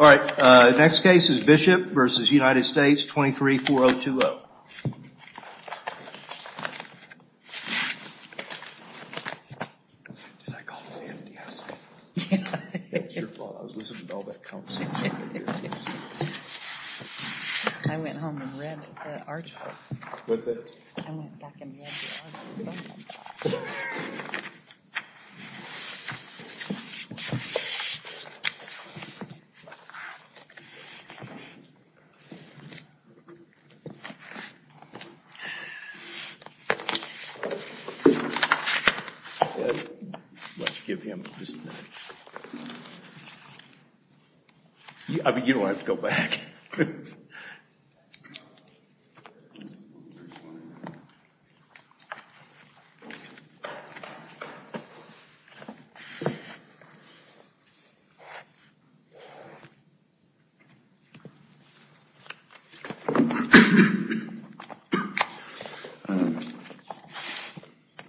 All right, next case is Bishop v. United States, 23-4020. I mean, you don't have to go back.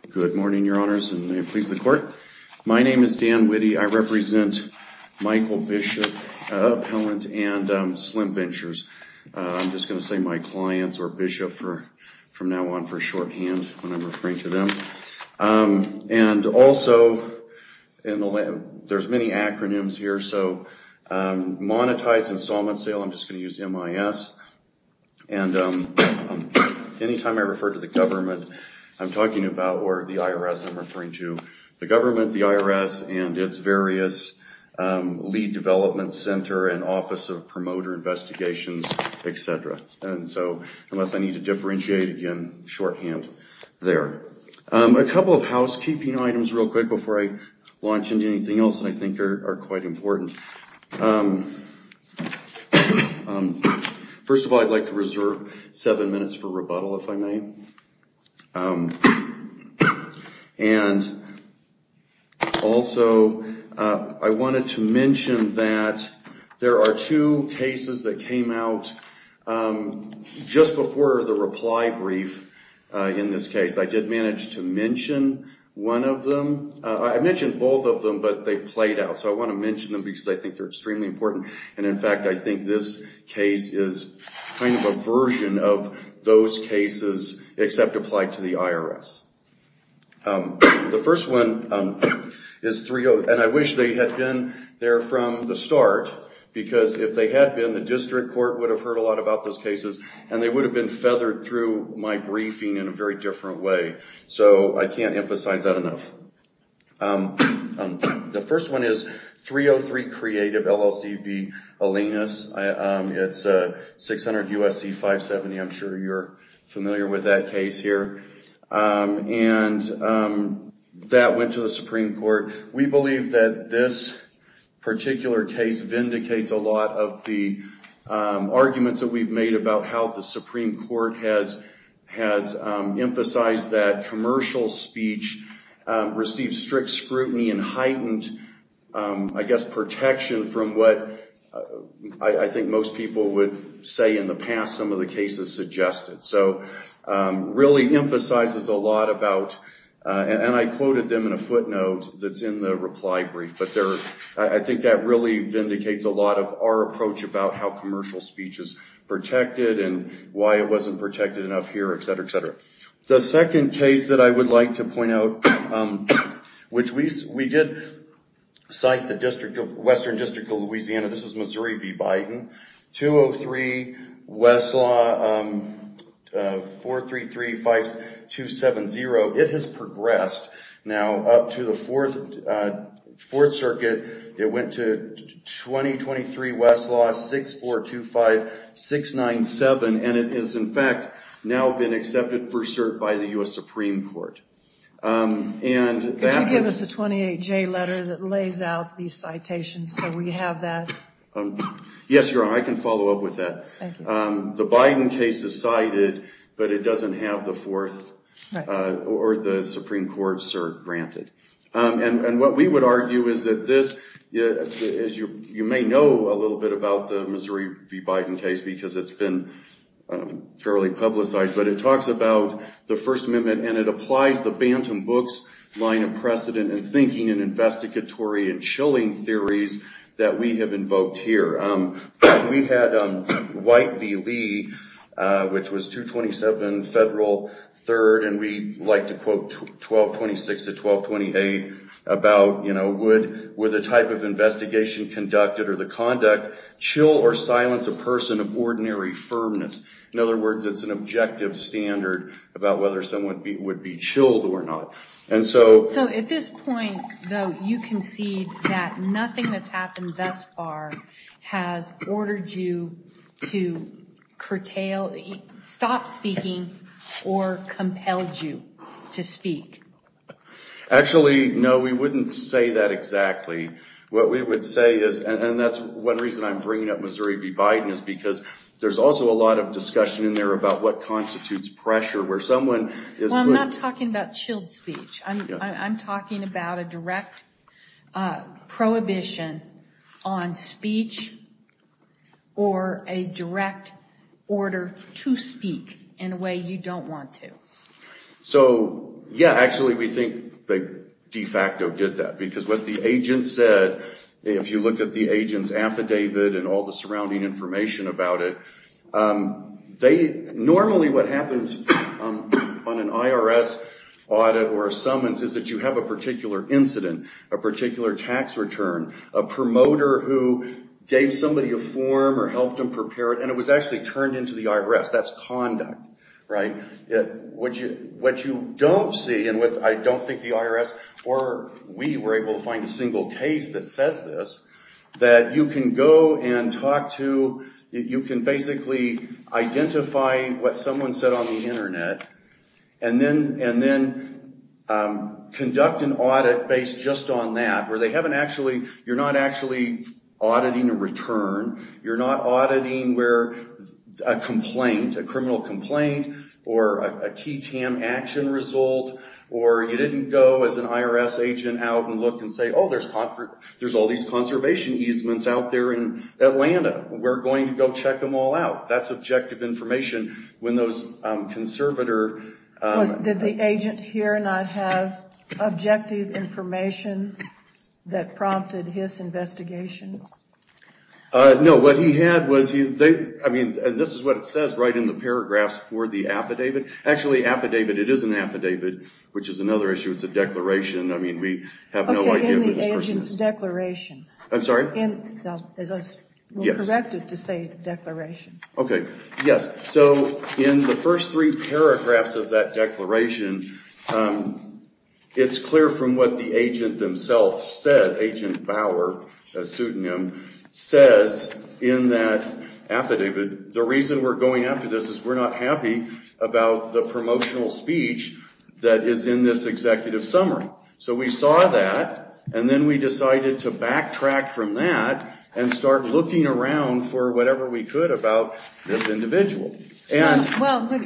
Good morning, your honors, and may it please the court. My name is Dan Witte. I represent Michael Bishop Appellant and Slim Ventures. I'm just going to say my clients or Bishop from now on for shorthand when I'm referring to them. And also, there's many acronyms here. So monetized installment sale, I'm just going to use MIS. And any time I refer to the government, I'm talking about, or the IRS, I'm referring to the government, the IRS, and its various lead development center and office of promoter investigations, et cetera. And so unless I need to differentiate again, shorthand there. A couple of housekeeping items real quick before I launch into anything else that I think are quite important. First of all, I'd like to reserve seven minutes for rebuttal, if I may. And also, I wanted to mention that there are two cases that came out just before the reply brief in this case. I did manage to mention one of them. I mentioned both of them, but they played out. So I want to mention them because I think they're extremely important. And in fact, I think this case is kind of a version of those cases, except applied to the IRS. The first one is 30, and I wish they had been there from the start. Because if they had been, the district court would have heard a lot about those cases, and they would have been feathered through my briefing in a very different way. So I can't emphasize that enough. The first one is 303 Creative LLC v. Alenis. It's a 600 USC 570. I'm sure you're familiar with that case here. And that went to the Supreme Court. We believe that this particular case vindicates a lot of the arguments that we've made about how the Supreme Court has emphasized that commercial speech receives strict scrutiny and heightened, I guess, protection from what I think most people would say in the past some of the cases suggested. So really emphasizes a lot about, and I quoted them in a footnote that's in the reply brief, but I think that really vindicates a lot of our approach about how commercial speech is protected, and why it wasn't protected enough here, et cetera, et cetera. The second case that I would like to point out, which we did cite the Western District of Louisiana. This is Missouri v. Biden. 203 Westlaw 433-5270. It has progressed now up to the Fourth Circuit. It went to 2023 Westlaw 6425-697, and it has, in fact, now been accepted for cert by the U.S. Supreme Court. And that- Could you give us a 28J letter that lays out these citations so we have that? Yes, Your Honor, I can follow up with that. The Biden case is cited, but it doesn't have the Fourth or the Supreme Court cert granted. And what we would argue is that this, as you may know a little bit about the Missouri v. Biden case because it's been fairly publicized, but it talks about the First Amendment, and it applies the Bantam Books line of precedent and thinking and investigatory and chilling theories that we have invoked here. We had White v. Lee, which was 227 Federal 3rd, and we like to quote 1226 to 1228 about would the type of investigation conducted or the conduct chill or silence a person of ordinary firmness. In other words, it's an objective standard about whether someone would be chilled or not. And so- So at this point, though, you concede that nothing that's happened thus far has ordered you to curtail, stop speaking, or compelled you to speak. Actually, no, we wouldn't say that exactly. What we would say is, and that's one reason I'm bringing up Missouri v. Biden is because there's also a lot of discussion in there about what constitutes pressure, where someone is- Well, I'm not talking about chilled speech. I'm talking about a direct prohibition on speech or a direct order to speak in a way you don't want to. So yeah, actually, we think they de facto did that. Because what the agent said, if you look at the agent's affidavit and all the surrounding information about it, they- Normally, what happens on an IRS audit or a summons is that you have a particular incident, a particular tax return, a promoter who gave somebody a form or helped them prepare it, and it was actually turned into the IRS. That's conduct, right? What you don't see, and what I don't think the IRS or we were able to find a single case that says this, that you can go and talk to, you can basically identify what someone said on the internet, and then conduct an audit based just on that, where they haven't actually- You're not actually auditing a return. You're not auditing where a complaint, a criminal complaint, or a key TAM action result, or you didn't go as an IRS agent out and look and say, oh, there's all these conservation easements out there in Atlanta. We're going to go check them all out. That's objective information. When those conservator- Did the agent here not have objective information that prompted his investigation? No, what he had was he- I mean, this is what it says right in the paragraphs for the affidavit. Actually, affidavit, it is an affidavit, which is another issue. It's a declaration. I mean, we have no idea who this person is. OK, in the agent's declaration. I'm sorry? In- correct it to say declaration. OK, yes. So in the first three paragraphs of that declaration, it's clear from what the agent themselves says, Agent Bauer, a pseudonym, says in that affidavit. The reason we're going after this is we're not So we saw that, and then we decided to backtrack from that and start looking around for whatever we could about this individual. Well, what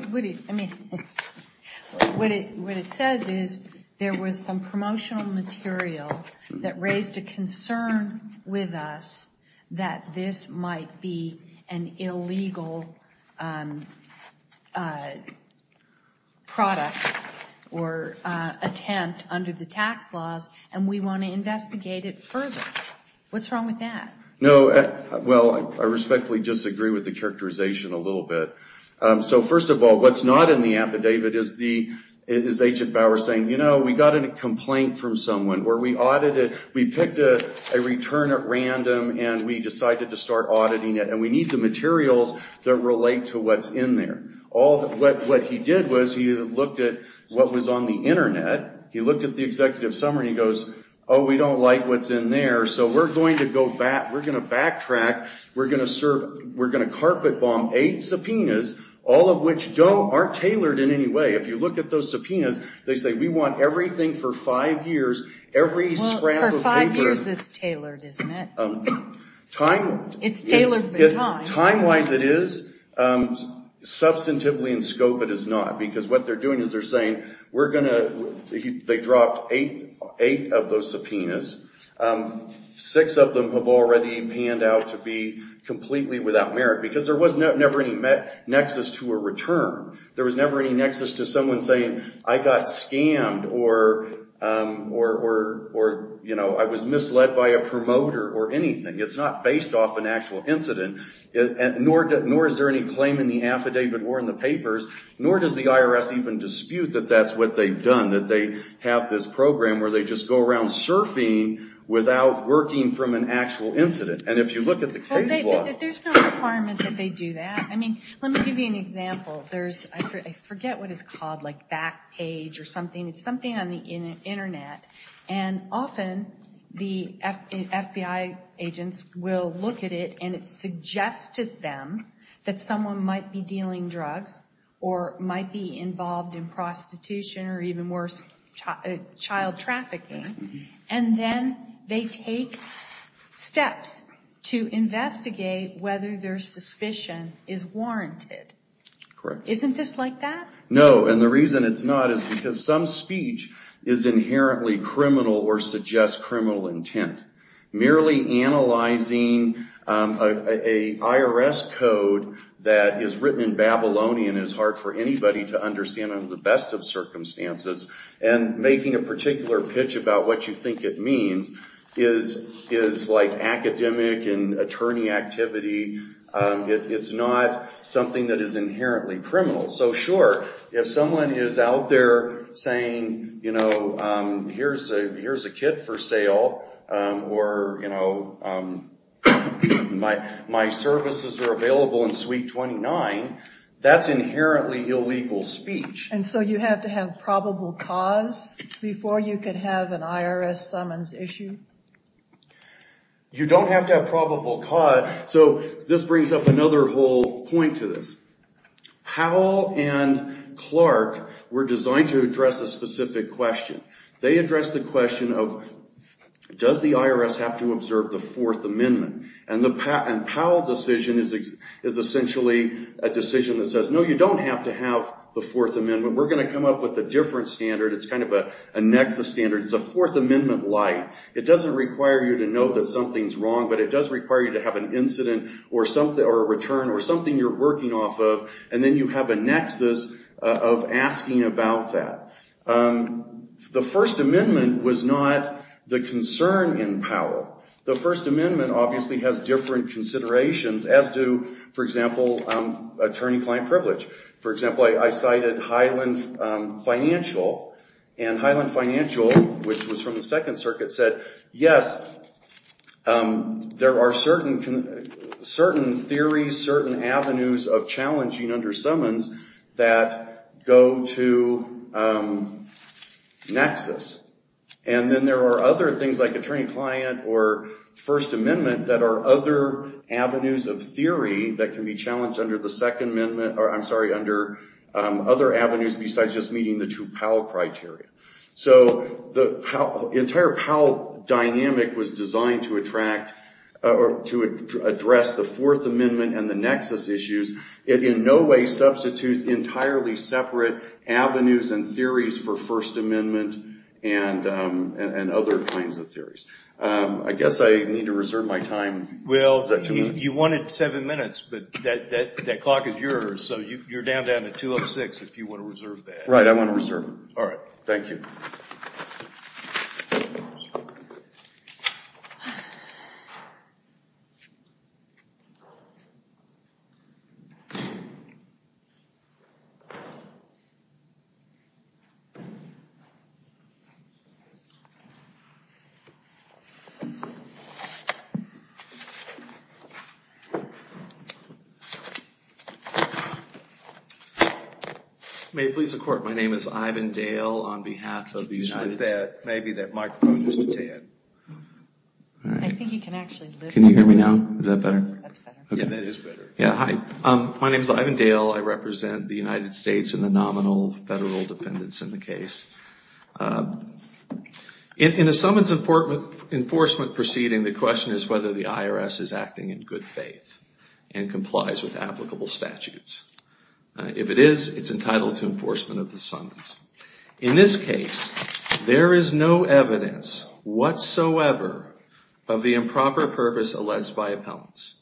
it says is there was some promotional material that raised a concern with us that this might be an illegal product or attempt under the tax laws, and we want to investigate it further. What's wrong with that? No, well, I respectfully disagree with the characterization a little bit. So first of all, what's not in the affidavit is the- is Agent Bauer saying, you know, we got a complaint from someone where we audited- we picked a return at random, and we decided to start auditing it. And we need the materials that relate to what's in there. What he did was he looked at what was on the internet. He looked at the executive summary, and he goes, oh, we don't like what's in there. So we're going to go back- we're going to backtrack. We're going to serve- we're going to carpet bomb eight subpoenas, all of which aren't tailored in any way. If you look at those subpoenas, they say we want everything for five years, every scrap of paper. Well, for five years, it's tailored, isn't it? It's tailored with time. Time-wise, it is. Substantively in scope, it is not. Because what they're doing is they're saying, we're going to- they dropped eight of those subpoenas. Six of them have already panned out to be completely without merit. Because there was never any nexus to a return. There was never any nexus to someone saying, I got scammed, or I was misled by a promoter, or anything. It's not based off an actual incident. Nor is there any claim in the affidavit or in the papers. Nor does the IRS even dispute that that's what they've done. That they have this program where they just go around surfing without working from an actual incident. And if you look at the case law- There's no requirement that they do that. I mean, let me give you an example. There's- I forget what it's called, like back page or something. It's something on the internet. And often, the FBI agents will look at it, and it suggests to them that someone might be dealing drugs, or might be involved in prostitution, or even worse, child trafficking. And then they take steps to investigate whether their suspicion is warranted. Isn't this like that? No, and the reason it's not is because some speech is inherently criminal or suggests criminal intent. Merely analyzing an IRS code that is written in Babylonian is hard for anybody to understand under the best of circumstances. And making a particular pitch about what you think it means is like academic and attorney activity. It's not something that is inherently criminal. So sure, if someone is out there saying, you know, here's a kit for sale, or my services are available in suite 29, that's inherently illegal speech. And so you have to have probable cause before you can have an IRS summons issue? You don't have to have probable cause. So this brings up another whole point to this. Powell and Clark were designed to address a specific question. They addressed the question of, does the IRS have to observe the Fourth Amendment? And Powell's decision is essentially a decision that says, no, you don't have to have the Fourth Amendment. We're going to come up with a different standard. It's kind of a nexus standard. It's a Fourth Amendment light. It doesn't require you to know that something's wrong, but it does require you to have an incident, or a return, or something you're working off of. And then you have a nexus of asking about that. The First Amendment was not the concern in Powell. The First Amendment obviously has different considerations, as do, for example, attorney-client privilege. For example, I cited Highland Financial. And Highland Financial, which was from the Second Circuit, said, yes, there are certain theories, certain avenues of challenging under summons that go to nexus. And then there are other things, like attorney-client or First Amendment, that are other avenues of theory that can be challenged under the Second Amendment, or I'm sorry, under other avenues besides just meeting the two Powell criteria. So the entire Powell dynamic was designed to attract, or to address, the Fourth Amendment and the nexus issues. It in no way substitutes entirely separate avenues and theories for First Amendment and other kinds of theories. I guess I need to reserve my time. Well, you wanted seven minutes, but that clock is yours. So you're down to 2 of 6 if you want to reserve that. Right, I want to reserve it. All right, thank you. Thank you. May it please the Court, my name is Ivan Dale on behalf of the United States. Maybe that microphone is detained. I think you can actually listen. Can you hear me now? Is that better? That's better. Yeah, hi. My name is Ivan Dale. I represent the United States in the nominal federal defendants in the case. In a summons enforcement proceeding, the question is whether the IRS is acting in good faith and complies with applicable statutes. If it is, it's entitled to enforcement of the summons. In this case, there is no evidence whatsoever of the improper purpose alleged by appellants.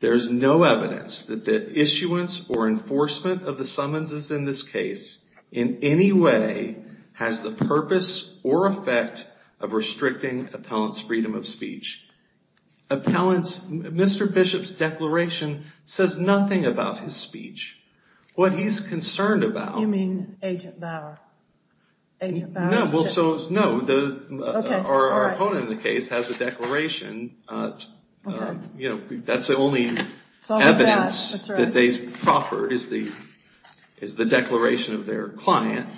There is no evidence that the issuance or enforcement of the summonses in this case in any way has the purpose or effect of restricting appellant's freedom of speech. Mr. Bishop's declaration says nothing about his speech. What he's concerned about. You mean Agent Bauer? Agent Bauer? No, our opponent in the case has a declaration. That's the only evidence that they proffered, is the declaration of their client.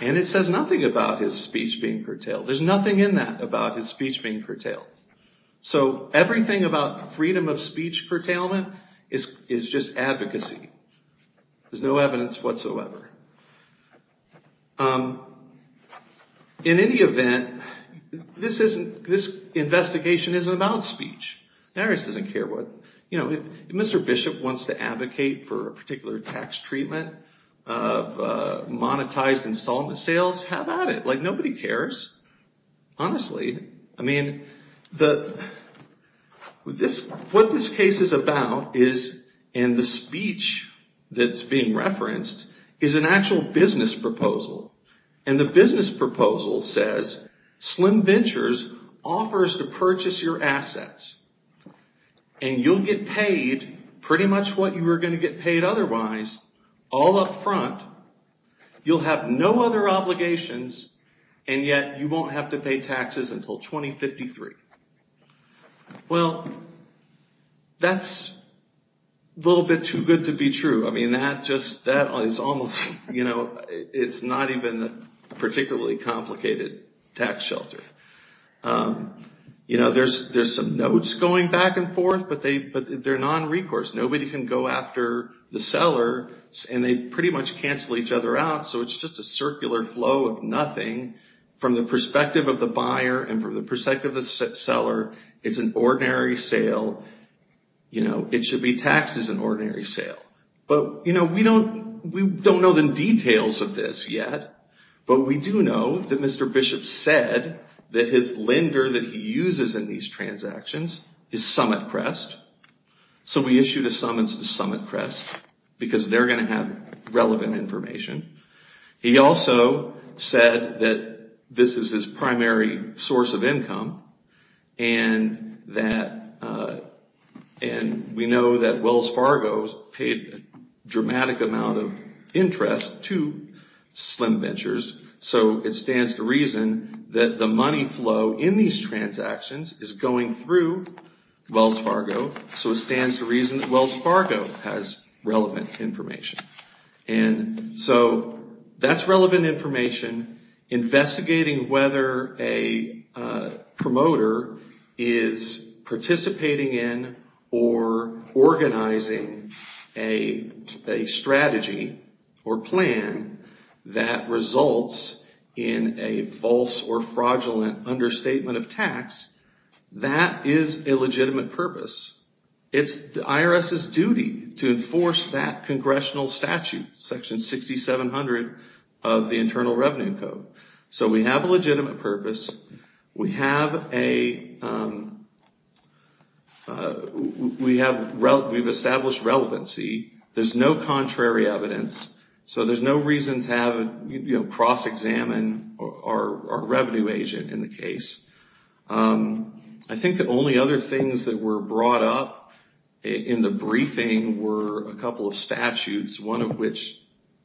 And it says nothing about his speech being curtailed. There's nothing in that about his speech being curtailed. So everything about freedom of speech curtailment is just advocacy. There's no evidence whatsoever. In any event, this investigation isn't about speech. Narys doesn't care what, if Mr. Bishop wants to advocate for a particular tax treatment of monetized installment sales, how about it? Like, nobody cares, honestly. I mean, what this case is about is, and the speech that's being referenced, is an actual business proposal. And the business proposal says, Slim Ventures offers to purchase your assets. And you'll get paid pretty much what you were going to get paid otherwise, all up front. You'll have no other obligations. And yet, you won't have to pay taxes until 2053. Well, that's a little bit too good to be true. I mean, that is almost, it's not even a particularly complicated tax shelter. There's some notes going back and forth, but they're non-recourse. Nobody can go after the seller, and they pretty much cancel each other out. So it's just a circular flow of nothing from the perspective of the buyer and from the perspective of the seller. It's an ordinary sale. It should be taxed as an ordinary sale. But we don't know the details of this yet. But we do know that Mr. Bishop said that his lender that he uses in these transactions is SummitCrest. So we issued a summons to SummitCrest, because they're going to have relevant information. He also said that this is his primary source of income, and we know that Wells Fargo has paid a dramatic amount of interest to Slim Ventures. So it stands to reason that the money flow in these transactions is going through Wells Fargo. So it stands to reason that Wells Fargo has relevant information. And so that's relevant information. Investigating whether a promoter is participating in or organizing a strategy or plan that results in a false or fraudulent understatement of tax, that is a legitimate purpose. It's the IRS's duty to enforce that congressional statute, section 6700 of the Internal Revenue Code. So we have a legitimate purpose. We've established relevancy. There's no contrary evidence. So there's no reason to cross-examine our revenue agent in the case. I think the only other things that were brought up in the briefing were a couple of statutes, one of which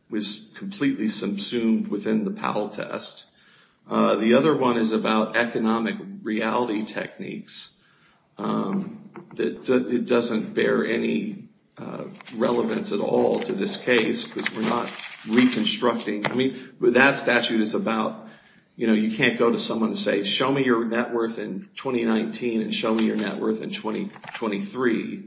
was completely subsumed within the Powell test. The other one is about economic reality techniques. It doesn't bear any relevance at all to this case because we're not reconstructing. I mean, that statute is about you can't go to someone and say, show me your net worth in 2019 and show me your net worth in 2023.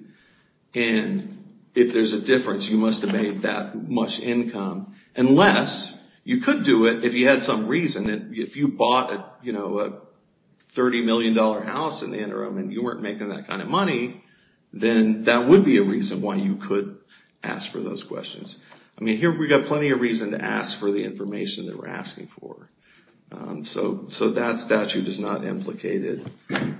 And if there's a difference, you must have made that much income. Unless you could do it if you had some reason. If you bought a $30 million house in the interim and you weren't making that kind of money, then that would be a reason why you could ask for those questions. I mean, here we've got plenty of reason to ask for the information that we're asking for. So that statute is not implicated.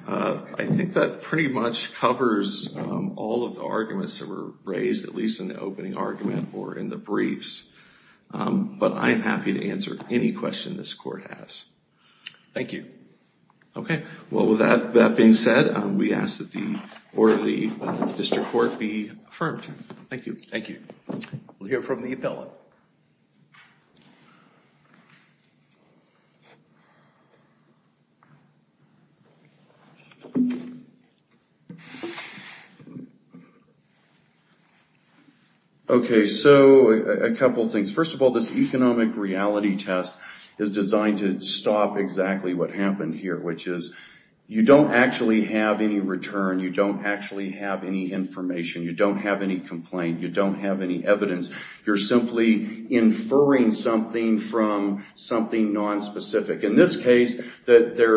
I think that pretty much covers all of the arguments that were released in the opening argument or in the briefs. But I am happy to answer any question this court has. Thank you. OK, well, with that being said, we ask that the order of the district court be affirmed. Thank you. Thank you. We'll hear from the appellate. OK, so a couple of things. First of all, this economic reality test is designed to stop exactly what happened here, which is you don't actually have any return. You don't actually have any information. You don't have any complaint. You don't have any evidence. You're simply inferring something from something nonspecific. In this case, there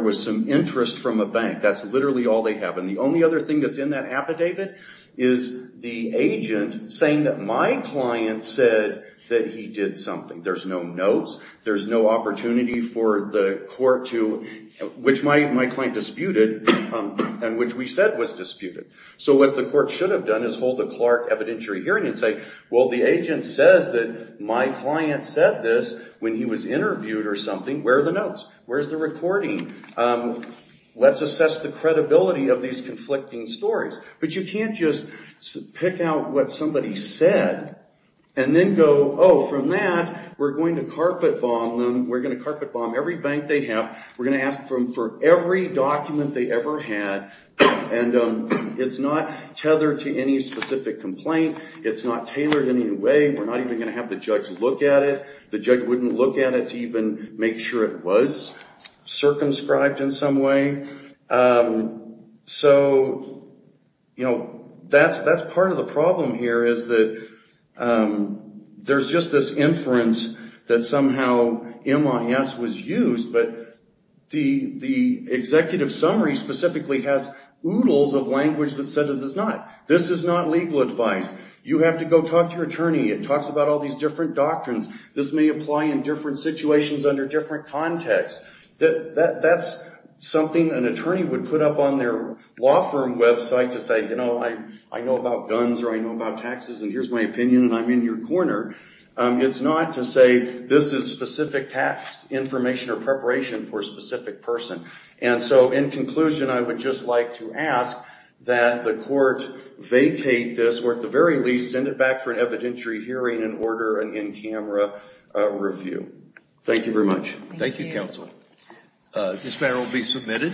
was some interest from a bank. That's literally all they have. And the only other thing that's in that affidavit is the agent saying that my client said that he did something. There's no notes. There's no opportunity for the court to, which my client disputed and which we said was disputed. So what the court should have done is hold a Clark evidentiary hearing and say, well, the agent says that my client said this when he was interviewed or something. Where are the notes? Where's the recording? Let's assess the credibility of these conflicting stories. But you can't just pick out what somebody said and then go, oh, from that, we're going to carpet bomb them. We're going to carpet bomb every bank they have. We're going to ask for every document they ever had. And it's not tethered to any specific complaint. It's not tailored in any way. We're not even going to have the judge look at it. The judge wouldn't look at it to even make sure it was circumscribed in some way. So that's part of the problem here, is that there's just this inference that somehow MIS was used, but the executive summary specifically has oodles of language that says it's not. This is not legal advice. You have to go talk to your attorney. It talks about all these different doctrines. This may apply in different situations under different contexts. That's something an attorney would put up on their law firm website to say, you know, I know about guns, or I know about taxes, and here's my opinion, and I'm in your corner. It's not to say, this is specific tax information or preparation for a specific person. And so in conclusion, I would just like to ask that the court vacate this, or at the very least, send it back for an evidentiary hearing and order an in-camera review. Thank you very much. Thank you, counsel. This matter will be submitted.